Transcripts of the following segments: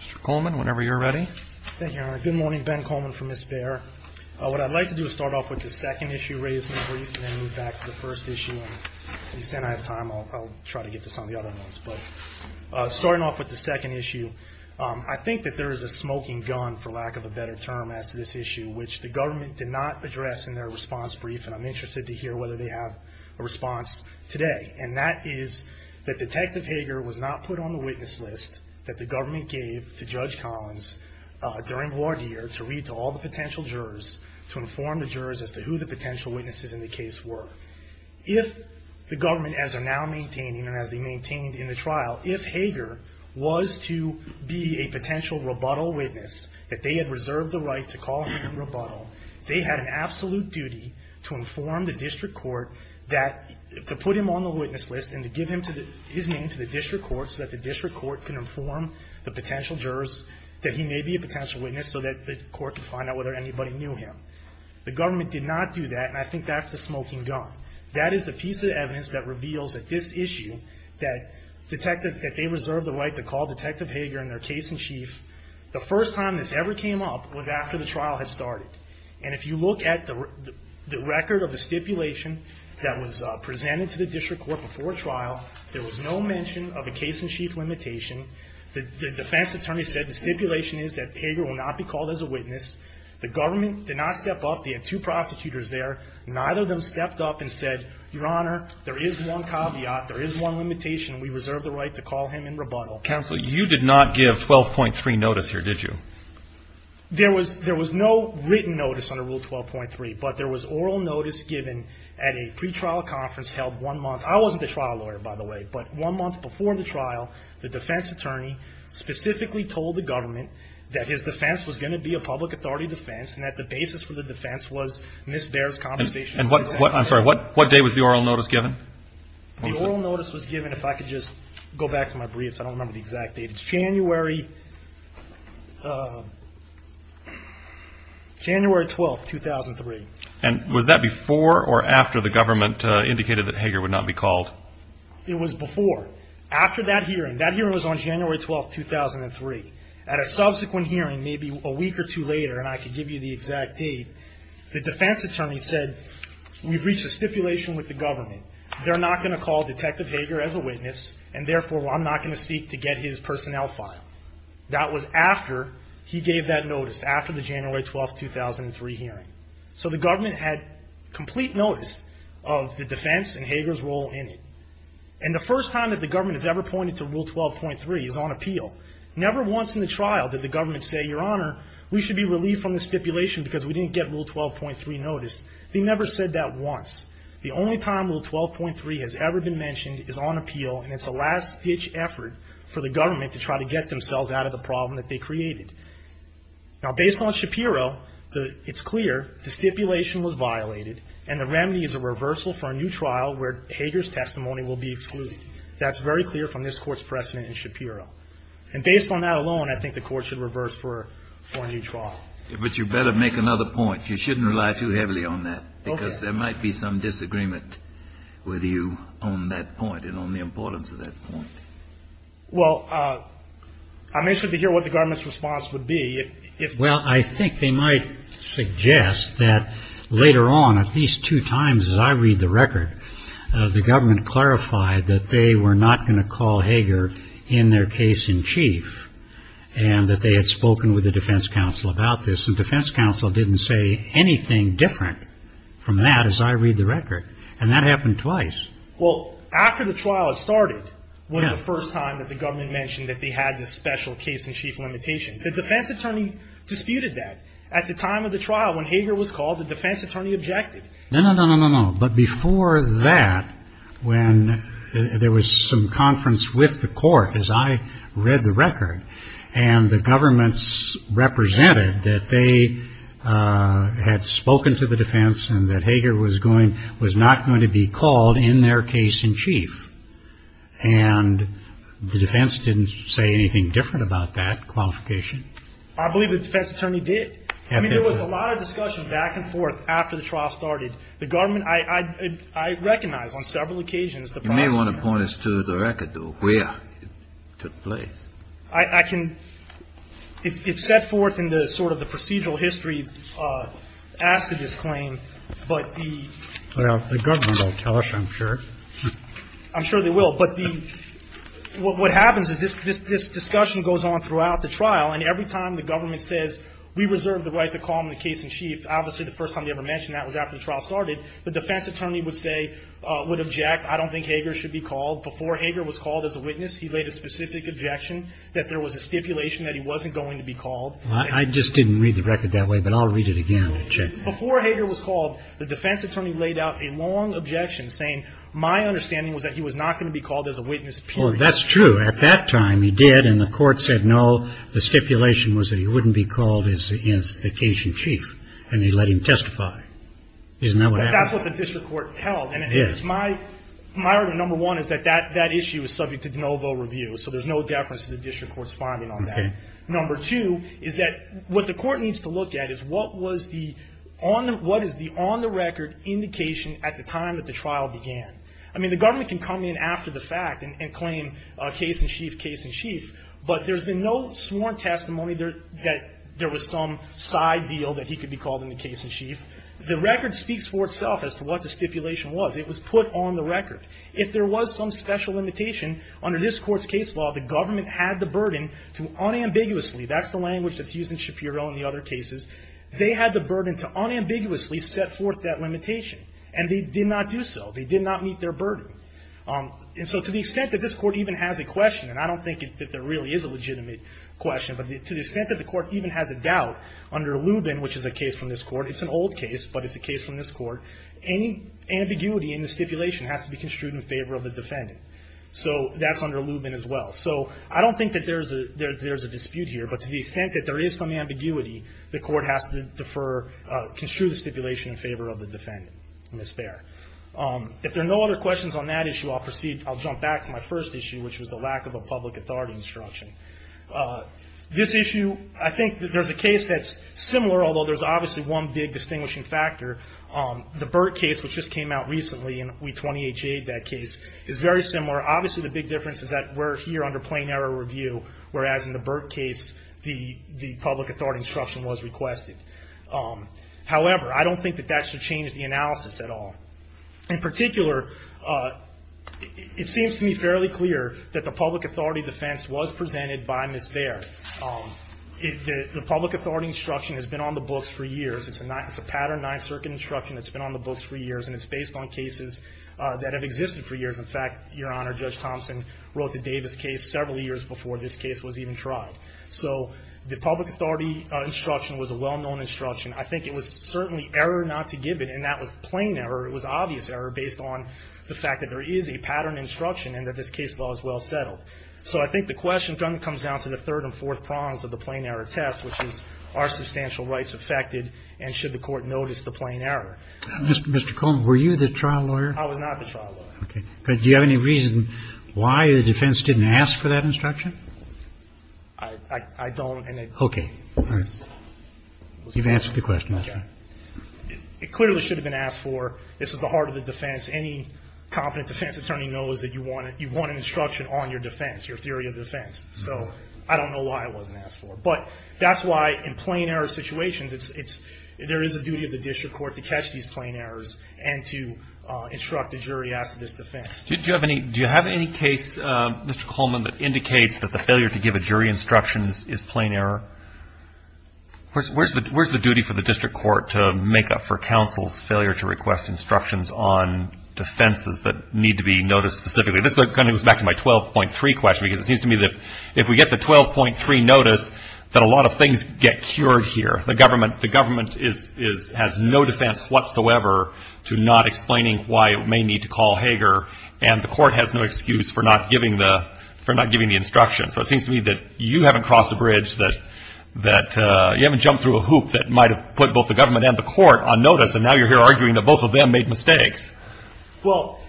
Mr. Coleman, whenever you're ready. Thank you, Your Honor. Good morning, Ben Coleman from Ms. Bear. What I'd like to do is start off with the second issue raised in the brief and then move back to the first issue. And you said I have time. I'll try to get this on the other ones. But starting off with the second issue, I think that there is a smoking gun, for lack of a better term, as to this issue, which the government did not address in their response brief, and I'm interested to hear whether they have a response today. And that is that Detective Hager was not put on the witness list that the government gave to Judge Collins during the ward year to read to all the potential jurors, to inform the jurors as to who the potential witnesses in the case were. If the government, as they're now maintaining and as they maintained in the trial, if Hager was to be a potential rebuttal witness, that they had reserved the right to call him a rebuttal, they had an absolute duty to inform the district court that, to put him on the witness list and to give his name to the district court so that the district court could inform the potential jurors that he may be a potential witness so that the court could find out whether anybody knew him. The government did not do that, and I think that's the smoking gun. That is the piece of evidence that reveals that this issue, that they reserved the right to call Detective Hager in their case in chief. The first time this ever came up was after the trial had started. And if you look at the record of the stipulation that was presented to the district court before trial, there was no mention of a case-in-chief limitation. The defense attorney said the stipulation is that Hager will not be called as a witness. The government did not step up. They had two prosecutors there. Neither of them stepped up and said, Your Honor, there is one caveat, there is one limitation, and we reserve the right to call him in rebuttal. Counsel, you did not give 12.3 notice here, did you? There was no written notice under Rule 12.3, but there was oral notice given at a pretrial conference held one month. I wasn't the trial lawyer, by the way, but one month before the trial, the defense attorney specifically told the government that his defense was going to be a public authority defense and that the basis for the defense was Ms. Baer's conversation with Detective Hager. I'm sorry, what day was the oral notice given? The oral notice was given, if I could just go back to my briefs, I don't remember the exact date. It's January 12, 2003. And was that before or after the government indicated that Hager would not be called? It was before. After that hearing, that hearing was on January 12, 2003. At a subsequent hearing, maybe a week or two later, and I could give you the exact date, the defense attorney said, we've reached a stipulation with the government. They're not going to call Detective Hager as a witness, and therefore I'm not going to seek to get his personnel file. That was after he gave that notice, after the January 12, 2003 hearing. So the government had complete notice of the defense and Hager's role in it. And the first time that the government has ever pointed to Rule 12.3 is on appeal. Never once in the trial did the government say, Your Honor, we should be relieved from the stipulation because we didn't get Rule 12.3 noticed. They never said that once. The only time Rule 12.3 has ever been mentioned is on appeal, and it's a last-ditch effort for the government to try to get themselves out of the problem that they created. Now, based on Shapiro, it's clear the stipulation was violated, and the remedy is a reversal for a new trial where Hager's testimony will be excluded. That's very clear from this Court's precedent in Shapiro. And based on that alone, I think the Court should reverse for a new trial. But you better make another point. You shouldn't rely too heavily on that. Because there might be some disagreement with you on that point and on the importance of that point. Well, I'm interested to hear what the government's response would be. Well, I think they might suggest that later on, at least two times as I read the record, the government clarified that they were not going to call Hager in their case-in-chief and that they had spoken with the defense counsel about this. And defense counsel didn't say anything different from that as I read the record. And that happened twice. Well, after the trial had started was the first time that the government mentioned that they had this special case-in-chief limitation. The defense attorney disputed that. At the time of the trial, when Hager was called, the defense attorney objected. No, no, no, no, no, no. But before that, when there was some conference with the court, as I read the record, and the government represented that they had spoken to the defense and that Hager was not going to be called in their case-in-chief, and the defense didn't say anything different about that qualification. I believe the defense attorney did. I mean, there was a lot of discussion back and forth after the trial started. The government – I recognize on several occasions the process. You may want to point us to the record, though, where it took place. I can – it's set forth in the sort of the procedural history after this claim, but the – Well, the government will tell us, I'm sure. I'm sure they will. But the – what happens is this discussion goes on throughout the trial, and every time the government says, we reserve the right to call him the case-in-chief, obviously the first time they ever mentioned that was after the trial started, the defense attorney would say – would object, I don't think Hager should be called. Before Hager was called as a witness, he laid a specific objection that there was a stipulation that he wasn't going to be called. I just didn't read the record that way, but I'll read it again. Before Hager was called, the defense attorney laid out a long objection saying, my understanding was that he was not going to be called as a witness, period. Well, that's true. At that time he did, and the court said, no, the stipulation was that he wouldn't be called as the case-in-chief, and they let him testify. Isn't that what happened? That's what the district court held. It is. My argument, number one, is that that issue is subject to de novo review, so there's no deference to the district court's finding on that. Okay. Number two is that what the court needs to look at is what was the – what is the on-the-record indication at the time that the trial began? I mean, the government can come in after the fact and claim case-in-chief, case-in-chief, but there's been no sworn testimony that there was some side deal that he could be called in the case-in-chief. The record speaks for itself as to what the stipulation was. It was put on the record. If there was some special limitation under this Court's case law, the government had the burden to unambiguously – that's the language that's used in Shapiro and the other cases – they had the burden to unambiguously set forth that limitation, and they did not do so. They did not meet their burden. And so to the extent that this Court even has a question, and I don't think that there really is a legitimate question, but to the extent that the Court even has a doubt under Lubin, which is a case from this Court, it's an old case, but it's a case from this Court, any ambiguity in the stipulation has to be construed in favor of the defendant. So that's under Lubin as well. So I don't think that there's a – there's a dispute here, but to the extent that there is some ambiguity, the Court has to defer – construe the stipulation in favor of the defendant in this fair. If there are no other questions on that issue, I'll proceed – I'll jump back to my first issue, which was the lack of a public authority instruction. This issue – I think that there's a case that's similar, although there's obviously one big distinguishing factor. The Burt case, which just came out recently, and we 20-HA'd that case, is very similar. Obviously, the big difference is that we're here under plain error review, whereas in the Burt case, the public authority instruction was requested. However, I don't think that that should change the analysis at all. In particular, it seems to me fairly clear that the public authority defense was presented by Ms. Bair. The public authority instruction has been on the books for years. It's a patterned Ninth Circuit instruction that's been on the books for years, and it's based on cases that have existed for years. In fact, Your Honor, Judge Thompson wrote the Davis case several years before this case was even tried. So the public authority instruction was a well-known instruction. I think it was certainly error not to give it, and that was plain error. It was obvious error based on the fact that there is a patterned instruction and that this case law is well settled. So I think the question then comes down to the third and fourth prongs of the plain error test, which is are substantial rights affected, and should the court notice the plain error? Mr. Coleman, were you the trial lawyer? I was not the trial lawyer. Okay. But do you have any reason why the defense didn't ask for that instruction? I don't. Okay. All right. You've answered the question. Okay. It clearly should have been asked for. This is the heart of the defense. Any competent defense attorney knows that you want an instruction on your defense, your theory of defense. So I don't know why it wasn't asked for. But that's why in plain error situations, it's – there is a duty of the district court to catch these plain errors and to instruct the jury as to this defense. Do you have any case, Mr. Coleman, that indicates that the failure to give a jury instructions is plain error? Where's the duty for the district court to make up for counsel's failure to request instructions on defenses that need to be noticed specifically? This kind of goes back to my 12.3 question, because it seems to me that if we get the 12.3 notice, that a lot of things get cured here. The government has no defense whatsoever to not explaining why it may need to call notice, and the court has no excuse for not giving the – for not giving the instruction. So it seems to me that you haven't crossed a bridge that – that you haven't jumped through a hoop that might have put both the government and the court on notice, and now you're here arguing that both of them made mistakes. Well,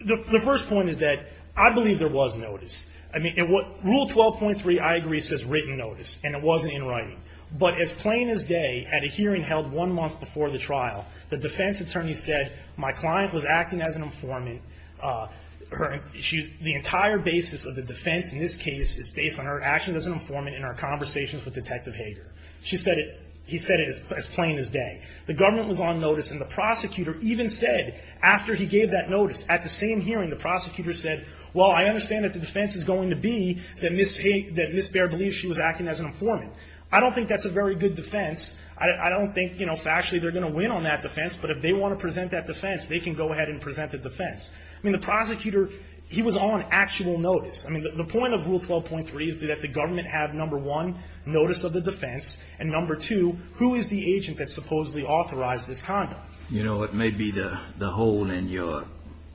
the first point is that I believe there was notice. I mean, in what – Rule 12.3, I agree, says written notice, and it wasn't in writing. But as plain as day, at a hearing held one month before the trial, the defense attorney said, my client was acting as an informant. Her – the entire basis of the defense in this case is based on her acting as an informant in our conversations with Detective Hager. She said it – he said it as plain as day. The government was on notice, and the prosecutor even said, after he gave that notice, at the same hearing, the prosecutor said, well, I understand that the defense is going to be that Ms. Baer believes she was acting as an informant. I don't think that's a very good defense. I don't think, you know, factually they're going to win on that defense. But if they want to present that defense, they can go ahead and present the defense. I mean, the prosecutor, he was on actual notice. I mean, the point of Rule 12.3 is that the government had, number one, notice of the defense, and number two, who is the agent that supposedly authorized this conduct? You know, it may be the hole in your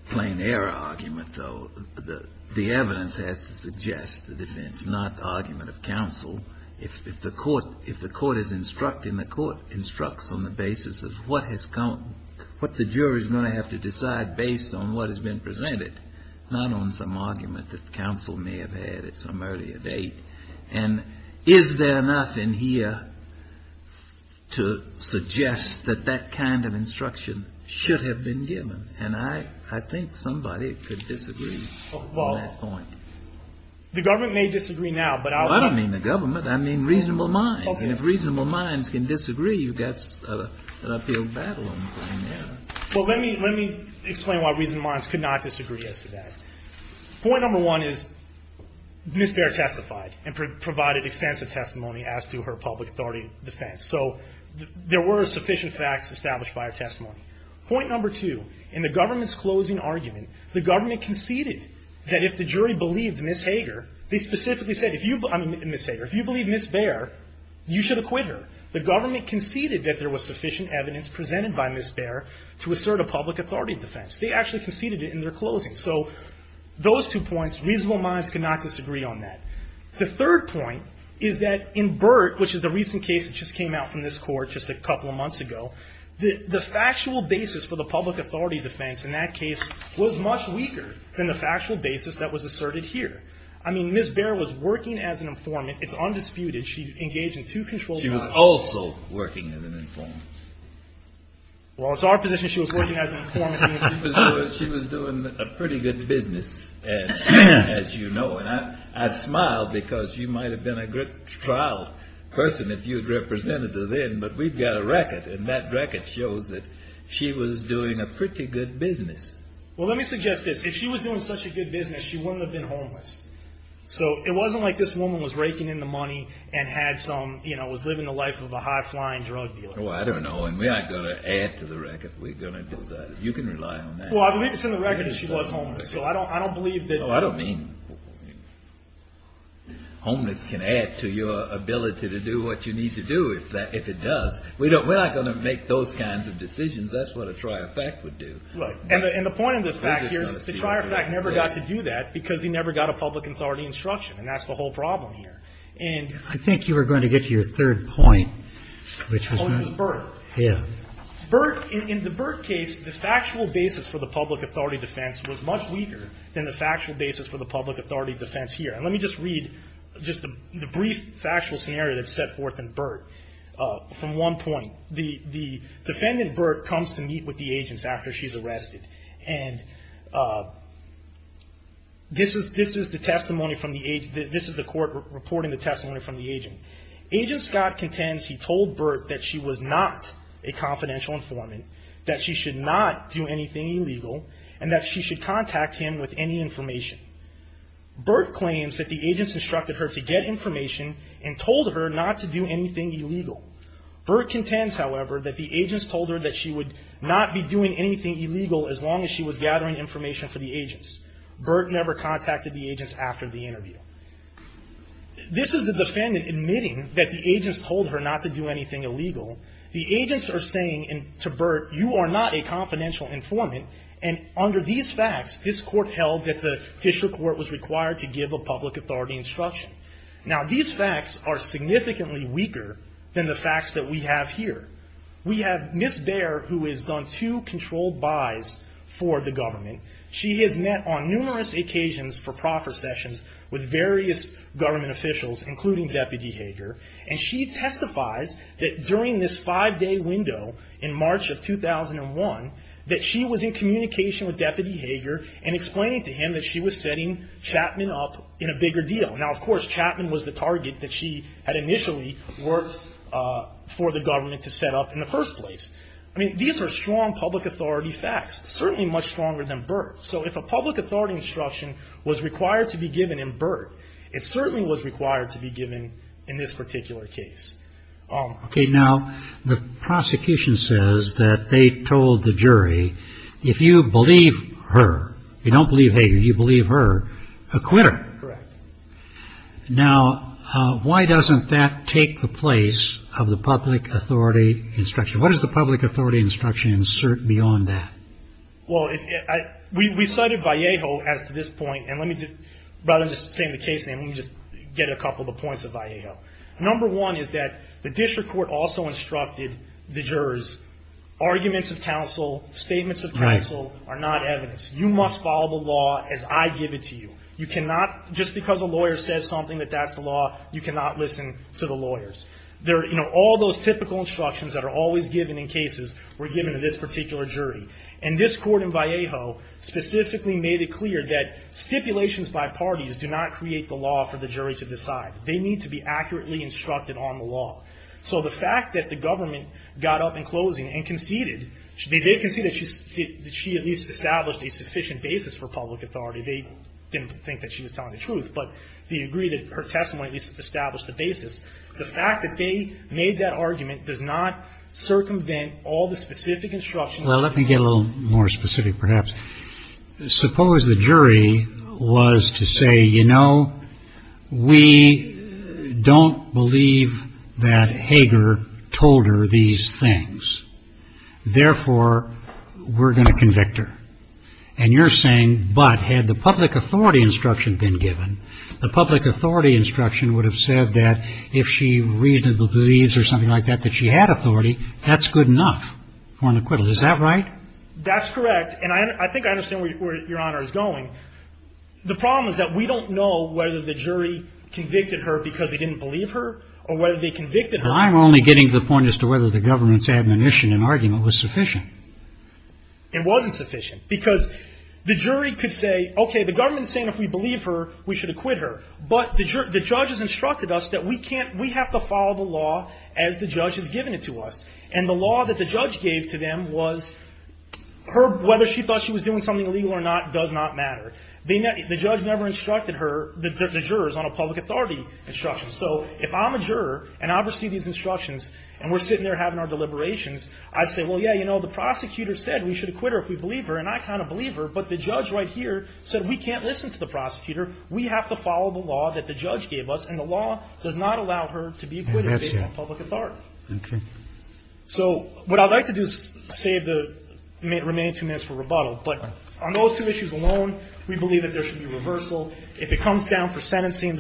plain error argument, though. The evidence has to suggest the defense, not the argument of counsel. If the court is instructing, the court instructs on the basis of what has come – what the jury is going to have to decide based on what has been presented, not on some argument that counsel may have had at some earlier date. And is there enough in here to suggest that that kind of instruction should have been given? And I think somebody could disagree on that point. Well, the government may disagree now, but I'll – I don't mean the government. I mean reasonable minds. And if reasonable minds can disagree, you've got an uphill battle on the plain error. Well, let me explain why reasonable minds could not disagree as to that. Point number one is Ms. Bair testified and provided extensive testimony as to her public authority defense. So there were sufficient facts established by her testimony. Point number two, in the government's closing argument, the government conceded that if the jury believed Ms. Hager, they specifically said, if you – I mean, Ms. Hager, if you believe Ms. Bair, you should acquit her. The government conceded that there was sufficient evidence presented by Ms. Bair to assert a public authority defense. They actually conceded it in their closing. So those two points, reasonable minds could not disagree on that. The third point is that in Burt, which is the recent case that just came out from this Court just a couple of months ago, the factual basis for the public authority defense in that case was much weaker than the factual basis that was asserted here. I mean, Ms. Bair was working as an informant. It's undisputed. She engaged in two controlled trials. She was also working as an informant. Well, it's our position she was working as an informant. She was doing a pretty good business, as you know. And I smile because you might have been a good trial person if you had represented her then. But we've got a record, and that record shows that she was doing a pretty good business. Well, let me suggest this. If she was doing such a good business, she wouldn't have been homeless. So it wasn't like this woman was raking in the money and had some, you know, was living the life of a high-flying drug dealer. Well, I don't know. And we aren't going to add to the record. We're going to decide. You can rely on that. Well, I believe it's in the record that she was homeless. So I don't believe that... No, I don't mean homeless can add to your ability to do what you need to do if it does. We're not going to make those kinds of decisions. That's what a trier fact would do. Right. And the point of this fact here is the trier fact never got to do that because he never got a public authority instruction. And that's the whole problem here. And... I think you were going to get to your third point, which was... Oh, it was Burt. Yeah. Burt, in the Burt case, the factual basis for the public authority defense was much weaker than the factual basis for the public authority defense here. And let me just read just the brief factual scenario that's set forth in Burt. From one point, the defendant, Burt, comes to meet with the agents after she's arrested. And this is the testimony from the agent. This is the court reporting the testimony from the agent. Agent Scott contends he told Burt that she was not a confidential informant, that she should not do anything illegal, and that she should contact him with any information. Burt claims that the agents instructed her to get information and told her not to do anything illegal. Burt contends, however, that the agents told her that she would not be doing anything illegal as long as she was gathering information for the agents. Burt never contacted the agents after the interview. This is the defendant admitting that the agents told her not to do anything illegal. The agents are saying to Burt, you are not a confidential informant, and under these facts, this court held that the district court was required to give a public authority instruction. Now, these facts are significantly weaker than the facts that we have here. We have Ms. Baer, who has done two controlled buys for the government. She has met on numerous occasions for proffer sessions with various government officials, including Deputy Hager. And she testifies that during this five-day window in March of 2001, that she was in communication with Deputy Hager and explaining to him that she was setting Chapman up in a bigger deal. Now, of course, Chapman was the target that she had initially worked for the government to set up in the first place. I mean, these are strong public authority facts, certainly much stronger than Burt. So if a public authority instruction was required to be given in Burt, it certainly was required in this particular case. Okay. Now, the prosecution says that they told the jury, if you believe her, you don't believe Hager, you believe her, acquit her. Correct. Now, why doesn't that take the place of the public authority instruction? What does the public authority instruction insert beyond that? Well, we cited Vallejo as to this point. And let me just, rather than just saying the case name, let me just get a couple of points of Vallejo. Number one is that the district court also instructed the jurors, arguments of counsel, statements of counsel are not evidence. You must follow the law as I give it to you. You cannot, just because a lawyer says something that that's the law, you cannot listen to the lawyers. You know, all those typical instructions that are always given in cases were given to this particular jury. And this court in Vallejo specifically made it clear that stipulations by parties do not create the law for the jury to decide. They need to be accurately instructed on the law. So the fact that the government got up in closing and conceded, they did concede that she at least established a sufficient basis for public authority. They didn't think that she was telling the truth, but they agree that her testimony at least established the basis. The fact that they made that argument does not circumvent all the specific instructions of the public authority. Well, let me get a little more specific perhaps. Suppose the jury was to say, you know, we don't believe that Hager told her these things. Therefore, we're going to convict her. And you're saying, but had the public authority instruction been given, the public authority instruction would have said that if she reasonably believes or something like that, that she had authority, that's good enough for an acquittal. Is that right? That's correct. And I think I understand where Your Honor is going. The problem is that we don't know whether the jury convicted her because they didn't believe her or whether they convicted her. I'm only getting to the point as to whether the government's admonition and argument was sufficient. It wasn't sufficient because the jury could say, okay, the government is saying if we believe her, we should acquit her. But the judge has instructed us that we have to follow the law as the judge has given it to us. And the law that the judge gave to them was her, whether she thought she was doing something illegal or not, does not matter. The judge never instructed her, the jurors, on a public authority instruction. So if I'm a juror and I receive these instructions and we're sitting there having our deliberations, I say, well, yeah, you know, the prosecutor said we should acquit her if we believe her, and I kind of believe her, but the judge right here said we can't listen to the prosecutor. We have to follow the law that the judge gave us, and the law does not allow her to be acquitted based on public authority. Okay. So what I'd like to do is save the remaining two minutes for rebuttal. But on those two issues alone, we believe that there should be reversal. If it comes down for sentencing,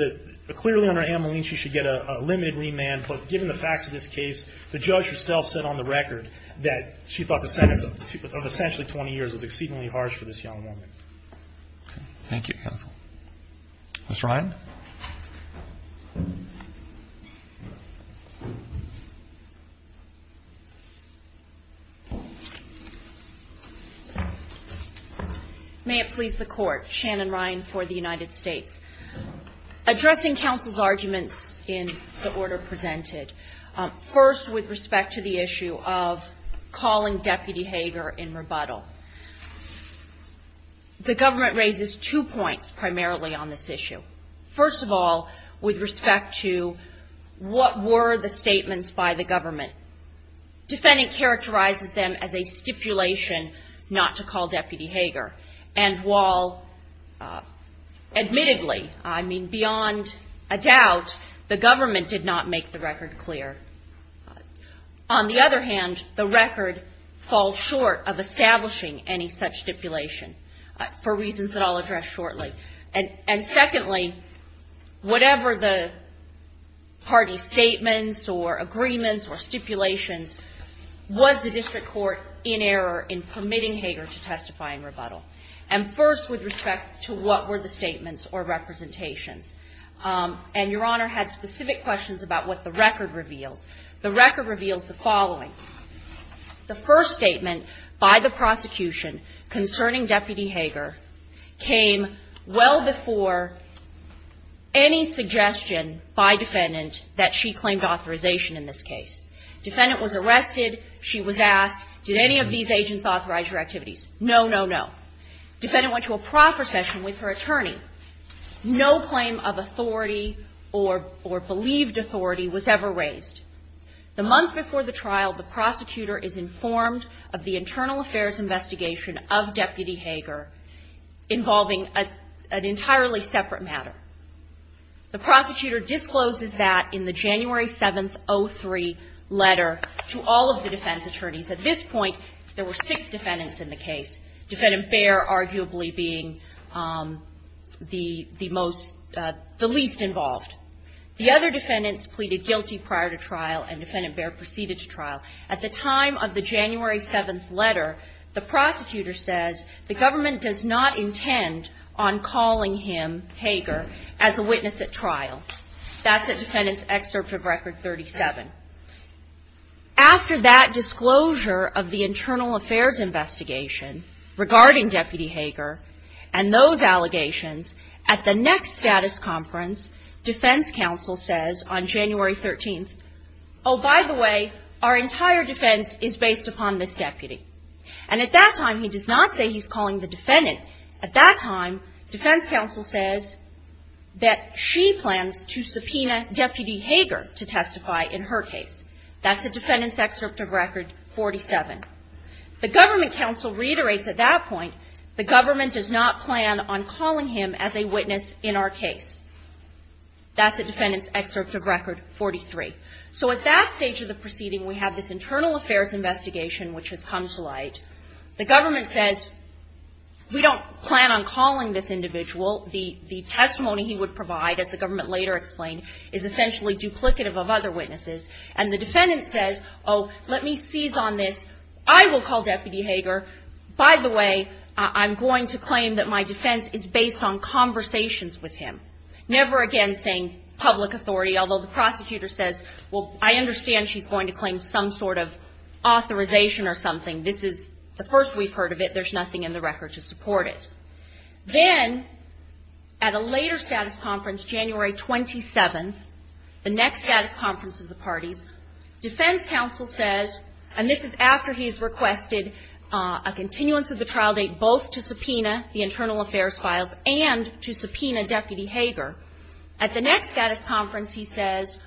clearly under amnesty she should get a limited remand, but given the facts of this case, the judge herself said on the record that she thought the sentence of essentially 20 years was exceedingly harsh for this young woman. Okay. Thank you, counsel. Ms. Ryan. May it please the Court. Shannon Ryan for the United States. Addressing counsel's arguments in the order presented, first with respect to the issue of calling Deputy Hager in rebuttal. The government raises two points primarily on this issue. First of all, with respect to what were the statements by the government. Defendant characterizes them as a stipulation not to call Deputy Hager, and while admittedly, I mean beyond a doubt, the government did not make the record clear. On the other hand, the record falls short of establishing any such stipulation for reasons that I'll address shortly. And secondly, whatever the party statements or agreements or stipulations, was the district court in error in permitting Hager to testify in rebuttal? And first, with respect to what were the statements or representations. And Your Honor had specific questions about what the record reveals. The record reveals the following. The first statement by the prosecution concerning Deputy Hager came well before any suggestion by defendant that she claimed authorization in this case. Defendant was arrested. She was asked, did any of these agents authorize your activities? No, no, no. Defendant went to a proper session with her attorney. No claim of authority or believed authority was ever raised. The month before the trial, the prosecutor is informed of the internal affairs investigation of Deputy Hager involving an entirely separate matter. The prosecutor discloses that in the January 7th, 03 letter to all of the defense attorneys. At this point, there were six defendants in the case. Defendant Baer arguably being the most, the least involved. The other defendants pleaded guilty prior to trial, and Defendant Baer proceeded to trial. At the time of the January 7th letter, the prosecutor says the government does not intend on calling him, Hager, as a witness at trial. That's the defendant's excerpt of Record 37. After that disclosure of the internal affairs investigation regarding Deputy Hager and those allegations, at the next status conference, defense counsel says on January 13th, oh, by the way, our entire defense is based upon this deputy. And at that time, he does not say he's calling the defendant. At that time, defense counsel says that she plans to subpoena Deputy Hager to her case. That's the defendant's excerpt of Record 47. The government counsel reiterates at that point the government does not plan on calling him as a witness in our case. That's the defendant's excerpt of Record 43. So at that stage of the proceeding, we have this internal affairs investigation which has come to light. The government says we don't plan on calling this individual. The testimony he would provide, as the government later explained, is essentially duplicative of other witnesses. And the defendant says, oh, let me seize on this. I will call Deputy Hager. By the way, I'm going to claim that my defense is based on conversations with him. Never again saying public authority, although the prosecutor says, well, I understand she's going to claim some sort of authorization or something. This is the first we've heard of it. There's nothing in the record to support it. Then, at a later status conference, January 27th, the next status conference of the parties, defense counsel says, and this is after he's requested a continuance of the trial date both to subpoena the internal affairs files and to subpoena Deputy Hager. At the next status conference, he says,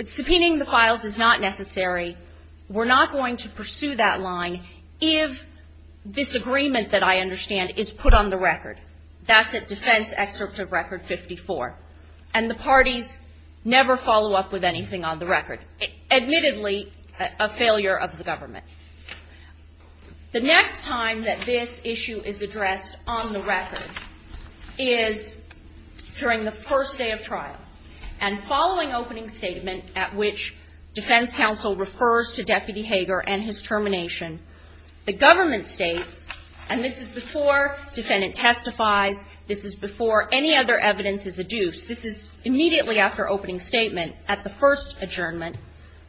subpoenaing the files is not necessary. We're not going to pursue that line if this agreement that I understand isn't put on the record. That's at defense excerpt of record 54. And the parties never follow up with anything on the record. Admittedly, a failure of the government. The next time that this issue is addressed on the record is during the first day of trial. And following opening statement at which defense counsel refers to Deputy Hager and his termination, the government states, and this is before defendant testifies, this is before any other evidence is adduced. This is immediately after opening statement at the first adjournment.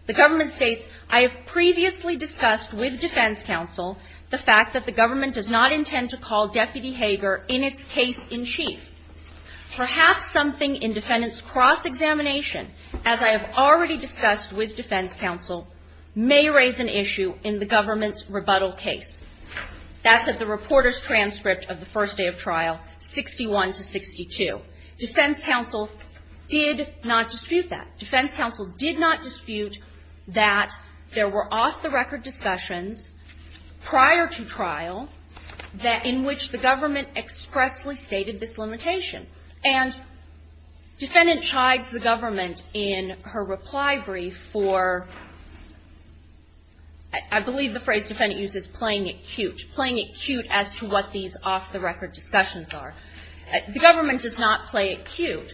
The government states, I have previously discussed with defense counsel the fact that the government does not intend to call Deputy Hager in its case in chief. Perhaps something in defendant's cross-examination, as I have already discussed with defense counsel, may raise an issue in the government's rebuttal case. That's at the reporter's transcript of the first day of trial, 61 to 62. Defense counsel did not dispute that. Defense counsel did not dispute that there were off-the-record discussions prior to trial in which the government expressly stated this limitation. And defendant chides the government in her reply brief for, I believe the phrase defendant uses, playing it cute, playing it cute as to what these off-the-record discussions are. The government does not play it cute.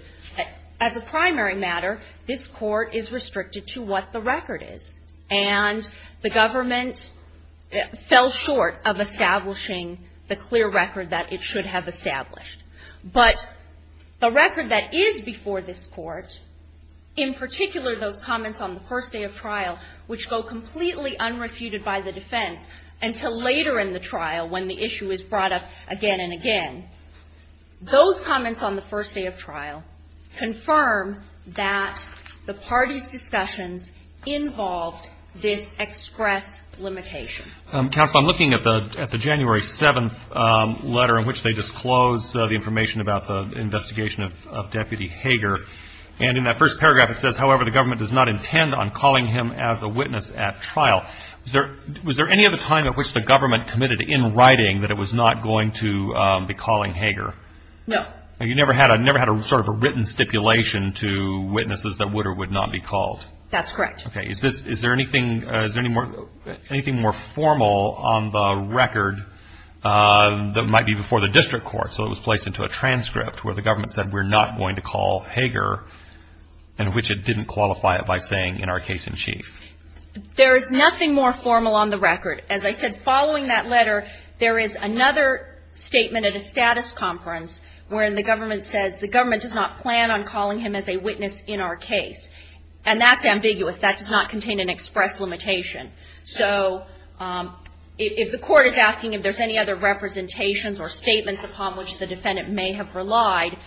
As a primary matter, this Court is restricted to what the record is, and the government fell short of establishing the clear record that it should have established. But the record that is before this Court, in particular those comments on the first day of trial, which go completely unrefuted by the defense until later in the trial when the issue is brought up again and again, those comments on the first day of trial confirm that the parties' discussions involved this express limitation. Counsel, I'm looking at the January 7th letter in which they disclosed the information about the investigation of Deputy Hager. And in that first paragraph it says, however, the government does not intend on calling him as a witness at trial. Was there any other time at which the government committed in writing that it was not going to be calling Hager? No. You never had a sort of a written stipulation to witnesses that would or would not be called? That's correct. Okay. Is there anything more formal on the record that might be before the district court so it was placed into a transcript where the government said we're not going to call Hager, in which it didn't qualify it by saying in our case in chief? There is nothing more formal on the record. As I said, following that letter, there is another statement at a status conference wherein the government says the government does not plan on calling him as a witness in our case. And that's ambiguous. That does not contain an express limitation. So if the court is asking if there's any other representations or statements upon which the defendant may have relied,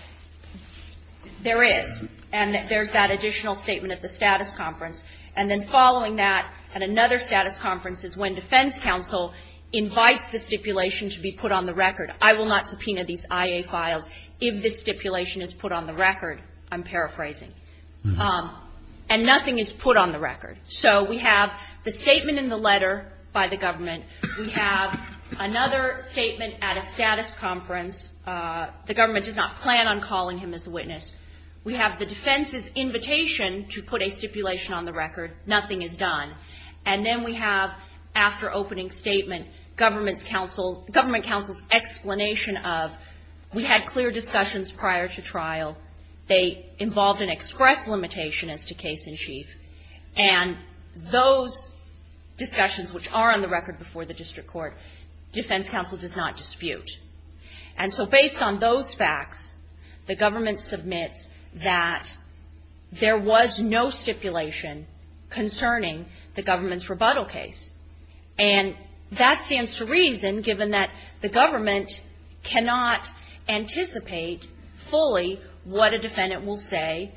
there is. And there's that additional statement at the status conference. And then following that at another status conference is when defense counsel invites the stipulation to be put on the record. I will not subpoena these IA files if this stipulation is put on the record. I'm paraphrasing. And nothing is put on the record. So we have the statement in the letter by the government. We have another statement at a status conference. The government does not plan on calling him as a witness. We have the defense's invitation to put a stipulation on the record. Nothing is done. And then we have, after opening statement, government counsel's explanation of, we had clear discussions prior to trial. They involved an express limitation as to case in chief. And those discussions, which are on the record before the district court, defense counsel does not dispute. And so based on those facts, the government submits that there was no stipulation concerning the government's rebuttal case. And that stands to reason, given that the government cannot anticipate fully what a defendant will say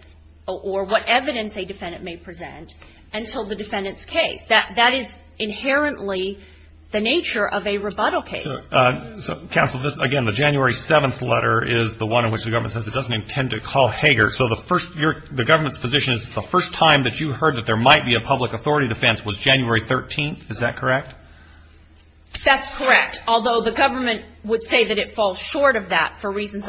or what evidence a defendant may present until the defendant's case. That is inherently the nature of a rebuttal case. Counsel, again, the January 7th letter is the one in which the government says it doesn't intend to call Hager. So the government's position is the first time that you heard that there might be a public authority defense was January 13th, is that correct? That's correct. Although the government would say that it falls short of that, for reasons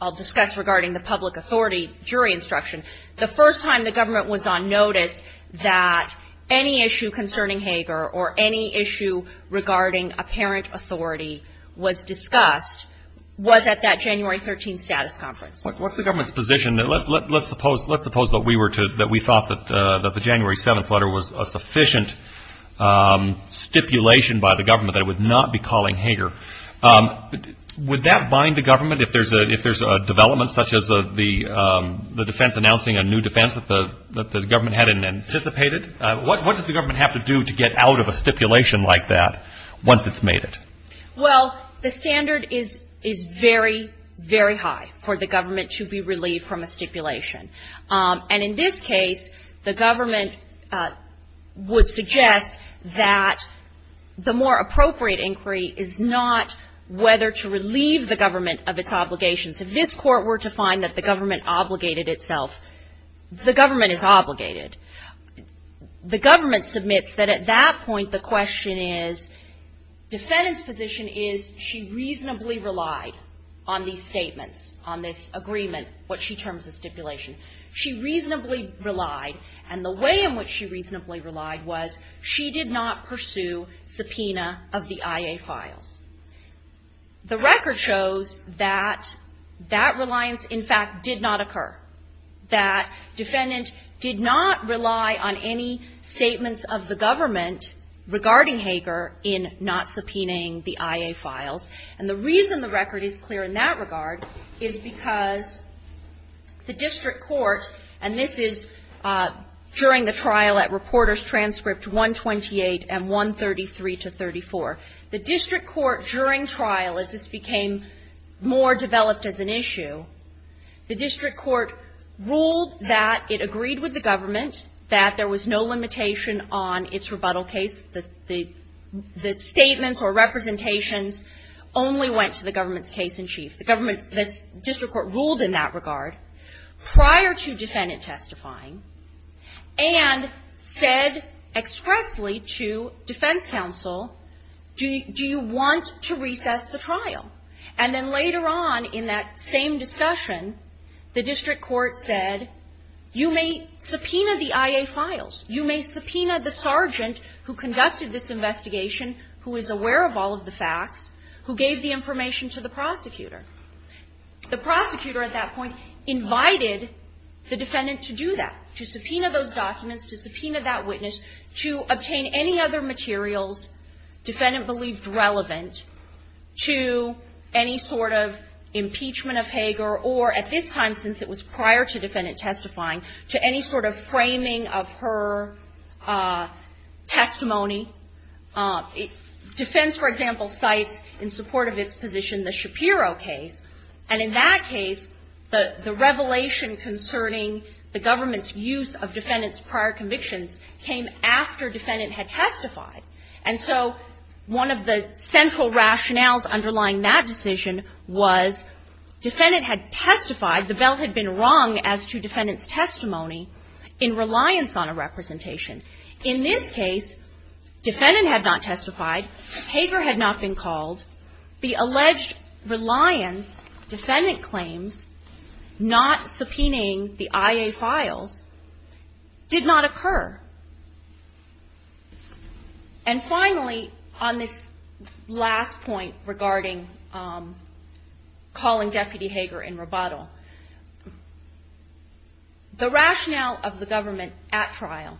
I'll discuss regarding the public authority jury instruction. The first time the government was on notice that any issue concerning Hager or any issue regarding apparent authority was discussed was at that January 13th status conference. What's the government's position? Let's suppose that we thought that the January 7th letter was a sufficient stipulation by the government that it would not be calling Hager. Would that bind the government if there's a development such as the defense announcing a new defense that the government hadn't anticipated? What does the government have to do to get out of a stipulation like that once it's made it? Well, the standard is very, very high for the government to be relieved from a stipulation. And in this case, the government would suggest that the more appropriate inquiry is not whether to relieve the government of its obligations. If this Court were to find that the government obligated itself, the government is obligated. The government submits that at that point the question is, defendant's position is she reasonably relied on these statements, on this agreement, what she terms as stipulation. She reasonably relied. And the way in which she reasonably relied was she did not pursue subpoena of the IA files. The record shows that that reliance, in fact, did not occur. That defendant did not rely on any statements of the government regarding Hager in not subpoenaing the IA files. And the reason the record is clear in that regard is because the district court, and this is during the trial at Reporters Transcript 128 and 133 to 34. The district court during trial, as this became more developed as an issue, the district court ruled that it agreed with the government that there was no limitation on its rebuttal case. The statements or representations only went to the government's case in chief. The government, the district court ruled in that regard prior to defendant testifying and said expressly to defense counsel, do you want to recess the trial? And then later on in that same discussion, the district court said, you may subpoena the IA files. You may subpoena the sergeant who conducted this investigation, who is aware of all of the facts, who gave the information to the prosecutor. The prosecutor at that point invited the defendant to do that, to subpoena those documents, to subpoena that witness, to obtain any other materials defendant believed relevant to any sort of impeachment of Hager or, at this time since it was prior to defendant testifying, to any sort of framing of her testimony. Defense, for example, cites in support of its position the Shapiro case. And in that case, the revelation concerning the government's use of defendant's prior convictions came after defendant had testified. And so one of the central rationales underlying that decision was defendant had testified, the bail had been wrong as to defendant's testimony in reliance on a representation. In this case, defendant had not testified, Hager had not been called. The alleged reliance, defendant claims, not subpoenaing the IA files, did not occur. And finally, on this last point regarding calling Deputy Hager in rebuttal, the rationale of the government at trial,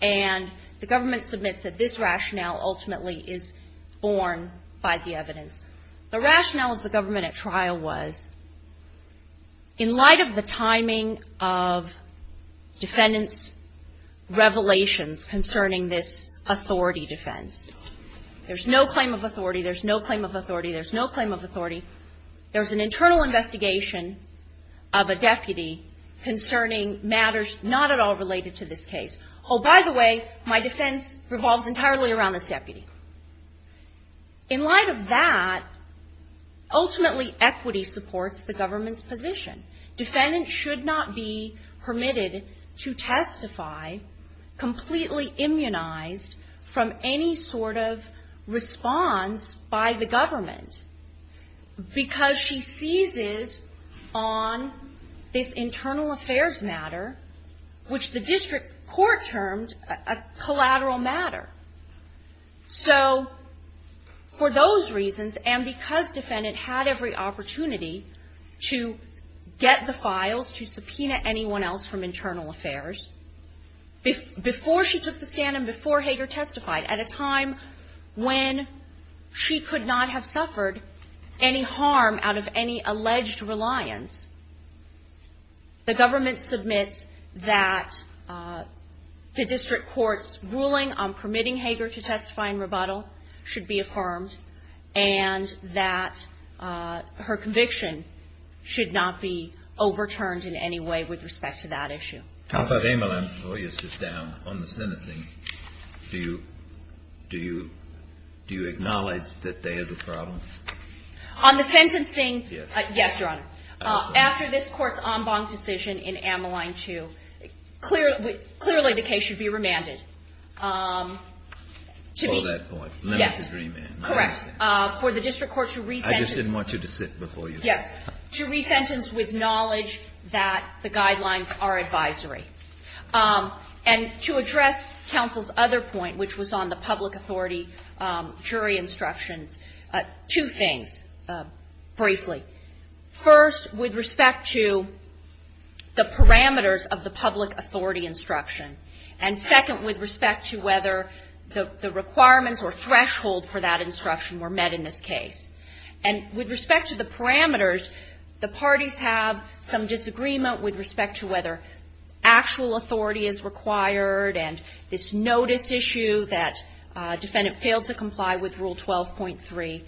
and the government submits that this rationale ultimately is born by the evidence, the rationale of the government at trial was, in light of the timing of defendant's revelations concerning this authority defense, there's no claim of authority, there's no claim of authority, there's no claim of authority, there's an internal investigation of a deputy concerning matters not at all related to this case. Oh, by the way, my defense revolves entirely around this deputy. In light of that, ultimately equity supports the government's position. Defendant should not be permitted to testify completely immunized from any sort of response by the government, because she seizes on this internal affairs matter, which the district court termed a collateral matter. So for those reasons, and because defendant had every opportunity to get the files, to subpoena anyone else from internal affairs, before she took the stand and before Hager testified, at a time when she could not have suffered any harm out of any alleged reliance, the government submits that the district court's ruling on permitting Hager to testify in rebuttal should be affirmed, and that her conviction should not be overturned in any way with respect to that issue. How about Amal and Voya sit down? On the sentencing, do you acknowledge that there is a problem? On the sentencing, yes, Your Honor. After this Court's en banc decision in Amaline 2, clearly the case should be remanded. To be — For that point. Yes. Limited remand. Correct. For the district court to re-sentence — I just didn't want you to sit before you — Yes. To re-sentence with knowledge that the guidelines are advisory. And to address counsel's other point, which was on the public authority jury instructions, two things, briefly. First, with respect to the parameters of the public authority instruction, and second, with respect to whether the requirements or threshold for that instruction were met in this case. And with respect to the parameters, the parties have some disagreement with respect to whether actual authority is required and this notice issue that defendant failed to comply with Rule 12.3.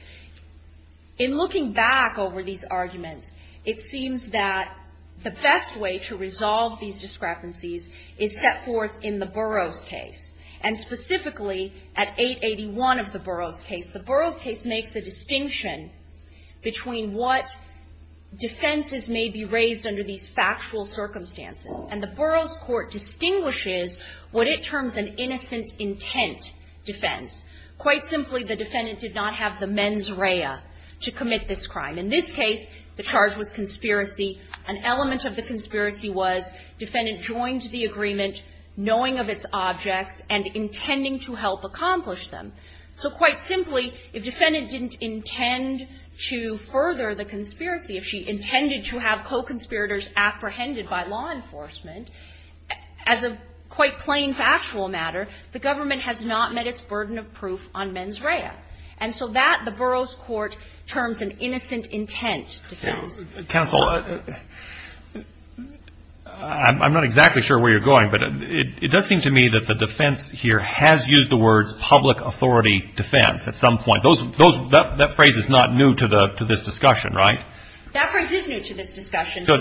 In looking back over these arguments, it seems that the best way to resolve these discrepancies is set forth in the Burroughs case. And specifically, at 881 of the Burroughs case, the Burroughs case makes a distinction between what defenses may be raised under these factual circumstances. And the Burroughs court distinguishes what it terms an innocent intent defense. Quite simply, the defendant did not have the mens rea to commit this crime. In this case, the charge was conspiracy. An element of the conspiracy was defendant joined the agreement knowing of its objects and intending to help accomplish them. So quite simply, if defendant didn't intend to further the conspiracy, if she intended to have co-conspiracy, if she intended to have murderers apprehended by law enforcement, as a quite plain factual matter, the government has not met its burden of proof on mens rea. And so that, the Burroughs court terms an innocent intent defense. Counsel, I'm not exactly sure where you're going, but it does seem to me that the defense here has used the words public authority defense at some point. That phrase is not new to this discussion, right? That phrase is new to this discussion. So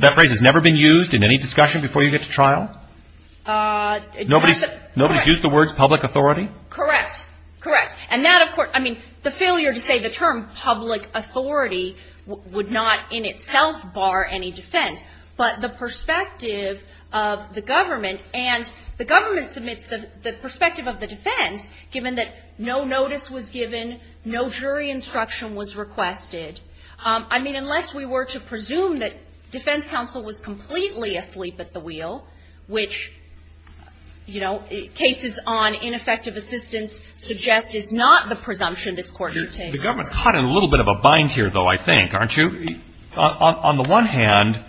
that phrase has never been used in any discussion before you get to trial? Nobody's used the words public authority? Correct. Correct. And that, of course, I mean, the failure to say the term public authority would not in itself bar any defense. But the perspective of the government, and the government submits the perspective of the defense, given that no notice was given, no jury instruction was requested. I mean, unless we were to presume that defense counsel was completely asleep at the wheel, which, you know, cases on ineffective assistance suggest is not the presumption this Court should take. The government's caught in a little bit of a bind here, though, I think, aren't you? On the one hand,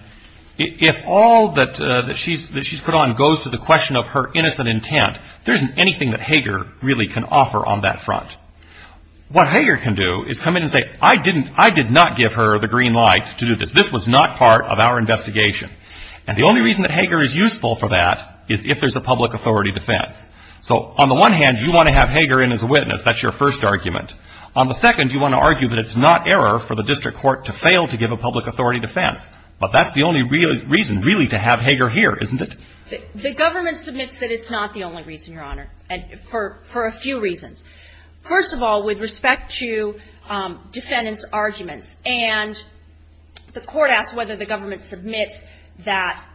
if all that she's put on goes to the question of her innocent intent, there isn't anything that Hager really can offer on that front. What Hager can do is come in and say, I did not give her the green light to do this. This was not part of our investigation. And the only reason that Hager is useful for that is if there's a public authority defense. So on the one hand, you want to have Hager in as a witness. That's your first argument. On the second, you want to argue that it's not error for the district court to fail to give a public authority defense. But that's the only reason really to have Hager here, isn't it? The government submits that it's not the only reason, Your Honor, for a few reasons. First of all, with respect to defendant's arguments, and the Court asks whether the government submits that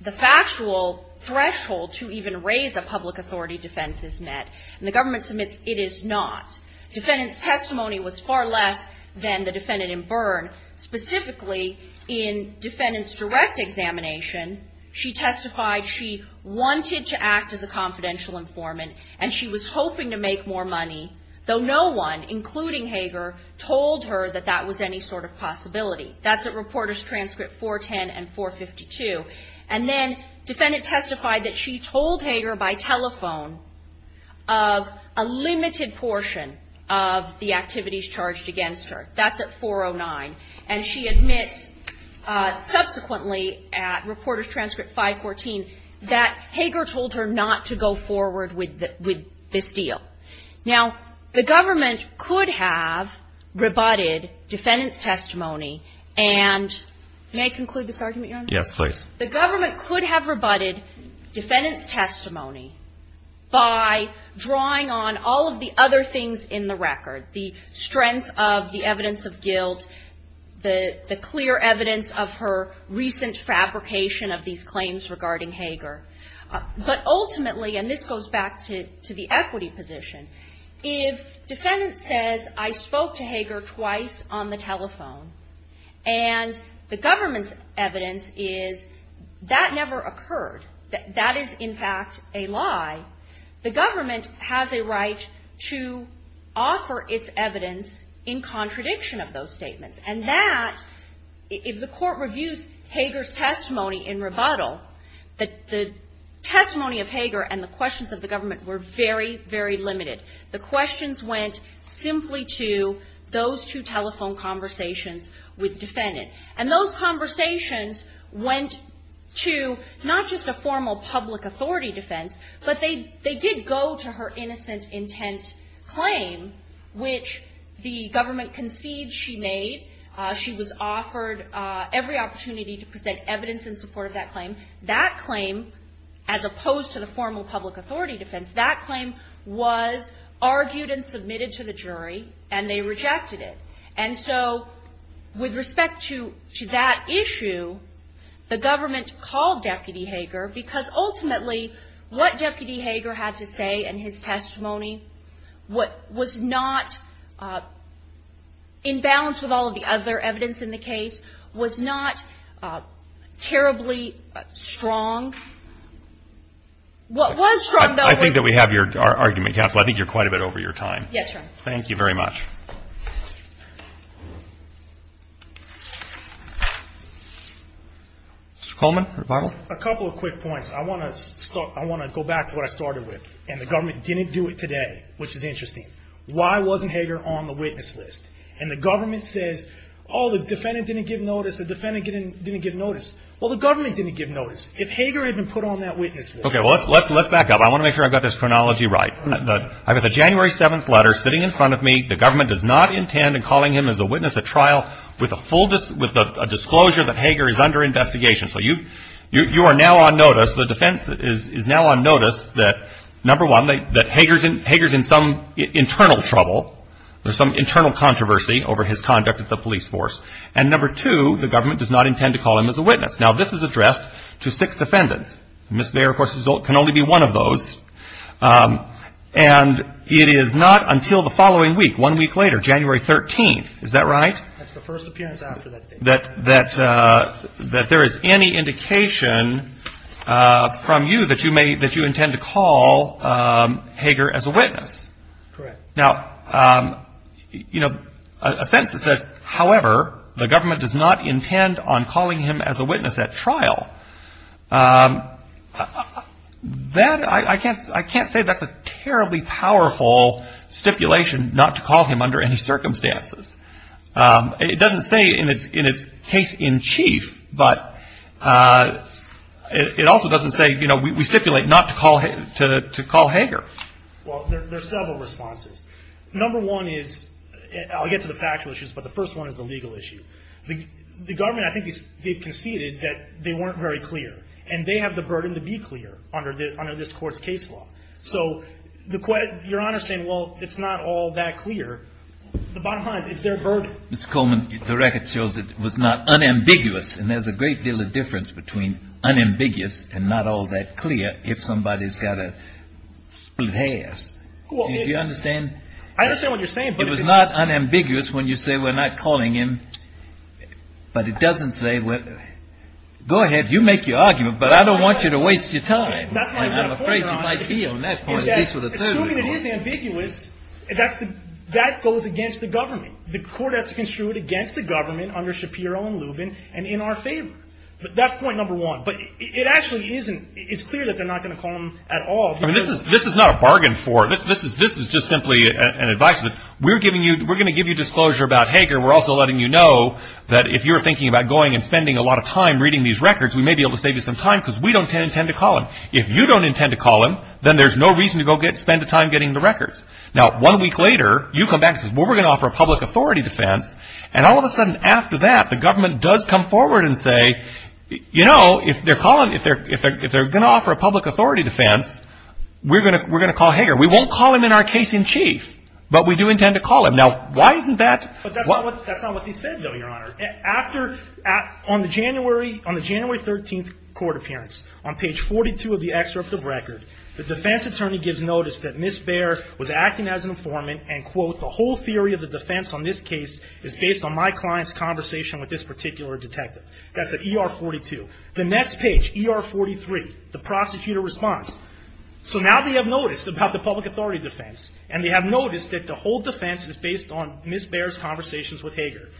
the factual threshold to even raise a public authority defense is met. And the government submits it is not. Defendant's testimony was far less than the defendant in Byrne. Specifically, in defendant's direct examination, she testified she wanted to act as a confidential informant, and she was hoping to make more money, though no one, including Hager, told her that that was any sort of possibility. That's at Reporters' Transcript 410 and 452. And then defendant testified that she told Hager by telephone of a limited portion of the activities charged against her. That's at 409. And she admits subsequently at Reporters' Transcript 514 that Hager told her not to go forward with this deal. Now, the government could have rebutted defendant's testimony and may I conclude this argument, Your Honor? Yes, please. The government could have rebutted defendant's testimony by drawing on all of the other things in the record, the strength of the evidence of guilt, the clear evidence of her recent fabrication of these claims regarding Hager. But ultimately, and this goes back to the equity position, if defendant says I spoke to Hager twice on the telephone and the government's evidence is that never occurred, that that is, in fact, a lie, the government has a right to offer its evidence in contradiction of those statements. And that, if the Court reviews Hager's testimony in rebuttal, the testimony of Hager and the questions of the government were very, very limited. The questions went simply to those two telephone conversations with defendant. And those conversations went to not just a formal public authority defense, but they did go to her innocent intent claim, which the government concedes she made. She was offered every opportunity to present evidence in support of that claim. That claim, as opposed to the formal public authority defense, that claim was argued and submitted to the jury, and they rejected it. And so with respect to that issue, the government called Deputy Hager, because ultimately, what Deputy Hager had to say in his testimony was not, in balance with all of the other evidence in the case, was not terribly strong. What was strong, though, was... Mr. Coleman, rebuttal? A couple of quick points. I want to go back to what I started with, and the government didn't do it today, which is interesting. Why wasn't Hager on the witness list? And the government says, oh, the defendant didn't give notice, the defendant didn't give notice. Well, the government didn't give notice. If Hager had been put on that witness list... Okay, well, let's back up. I want to make sure I've got this chronology right. I've got the January 7th letter sitting in front of me. The government does not intend in calling him as a witness at trial with a disclosure that Hager is under investigation. So you are now on notice, the defense is now on notice that, number one, that Hager's in some internal trouble, there's some internal controversy over his conduct at the police force, and number two, the government does not intend to call him as a witness. Now, this is addressed to six defendants. Mr. Mayer, of course, can only be one of those. And it is not until the following week, one week later, January 13th, is that right? That's the first appearance after that date. That there is any indication from you that you intend to call Hager as a witness. Correct. Now, a sense is that, however, the government does not intend on calling him as a witness at trial. I can't say that's a terribly powerful stipulation not to call him under any circumstances. It doesn't say in its case in chief, but it also doesn't say, you know, we stipulate not to call Hager. Well, there's several responses. Number one is, I'll get to the factual issues, but the first one is the legal issue. The government, I think they conceded that they weren't very clear, and they have the burden to be clear under this Court's case law. So your Honor's saying, well, it's not all that clear. The bottom line is, it's their burden. Mr. Coleman, the record shows it was not unambiguous, and there's a great deal of difference between unambiguous and not all that clear, if somebody's got to split hairs. Do you understand? I understand what you're saying. It was not unambiguous when you say we're not calling him, but it doesn't say, go ahead, you make your argument, but I don't want you to waste your time. I'm afraid you might be on that point. That goes against the government. The Court has to construe it against the government under Shapiro and Lubin and in our favor. But that's point number one. But it actually isn't. It's clear that they're not going to call him at all. This is not a bargain for it. This is just simply an advice that we're giving you. We're going to give you disclosure about Hager. We're also letting you know that if you're thinking about going and spending a lot of time reading these records, we may be able to save you some time because we don't intend to call him. If you don't intend to call him, then there's no reason to go spend the time getting the records. Now, one week later, you come back and say, well, we're going to offer a public authority defense, and all of a sudden after that, the government does come forward and say, you know, if they're going to offer a public authority defense, we're going to call Hager. We won't call him in our case in chief, but we do intend to call him. Now, why isn't that? That's not what they said, though, Your Honor. On the January 13th court appearance, on page 42 of the excerpt of the record, the defense attorney gives notice that Ms. Baer was acting as an informant and, quote, the whole theory of the defense on this case is based on my client's conversation with this particular detective. That's at ER 42. The next page, ER 43, the prosecutor responds. So now they have noticed about the public authority defense and they have noticed that the whole defense is based on Ms. Baer's conversations with Hager.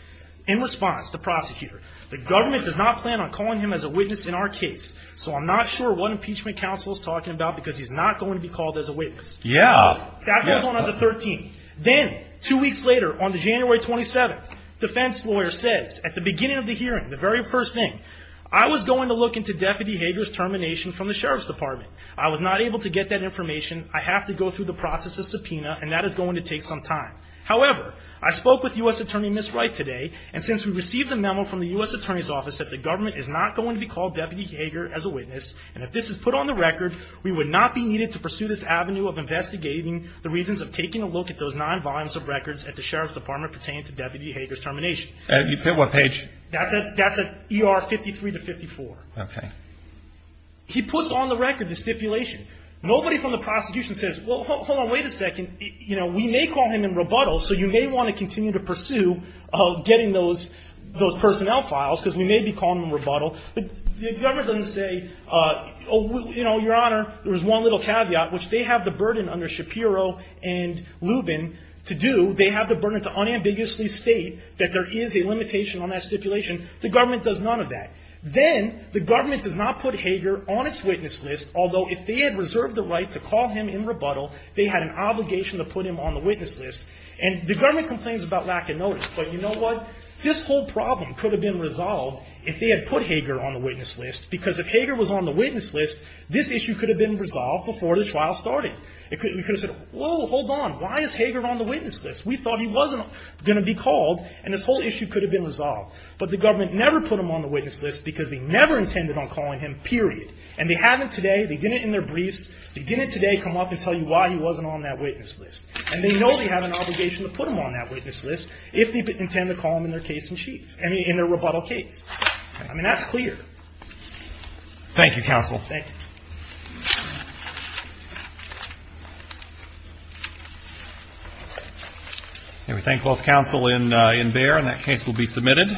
In response, the prosecutor, the government does not plan on calling him as a witness in our case, so I'm not sure what impeachment counsel is talking about because he's not going to be called as a witness. Yeah. That goes on on the 13th. Then, two weeks later, on the January 27th, the defense lawyer says at the beginning of the hearing, the very first thing, I was going to look into Deputy Hager's termination from the Sheriff's Department. I was not able to get that information. I have to go through the process of subpoena, and that is going to take some time. However, I spoke with U.S. Attorney Ms. Wright today, and since we received a memo from the U.S. Attorney's Office that the government is not going to be called Deputy Hager as a witness, and if this is put on the record, we would not be needed to pursue this avenue of investigating the reasons of taking a look at those nine volumes of records at the Sheriff's Department pertaining to Deputy Hager's termination. What page? That's at ER 53 to 54. Okay. He puts on the record the stipulation. Nobody from the prosecution says, well, hold on, wait a second. You know, we may call him in rebuttal, so you may want to continue to pursue getting those personnel files because we may be calling him in rebuttal. But the government doesn't say, you know, Your Honor, there was one little caveat, which they have the burden under Shapiro and Lubin to do. That there is a limitation on that stipulation. The government does none of that. Then the government does not put Hager on its witness list, although if they had reserved the right to call him in rebuttal, they had an obligation to put him on the witness list. And the government complains about lack of notice. But you know what? This whole problem could have been resolved if they had put Hager on the witness list, because if Hager was on the witness list, this issue could have been resolved before the trial started. We could have said, whoa, hold on, why is Hager on the witness list? We thought he wasn't going to be called, and this whole issue could have been resolved. But the government never put him on the witness list because they never intended on calling him, period. And they haven't today. They didn't in their briefs. They didn't today come up and tell you why he wasn't on that witness list. And they know they have an obligation to put him on that witness list if they intend to call him in their case in chief, I mean, in their rebuttal case. I mean, that's clear. Thank you, counsel. Thank you. And we thank both counsel in Behr. And that case will be submitted.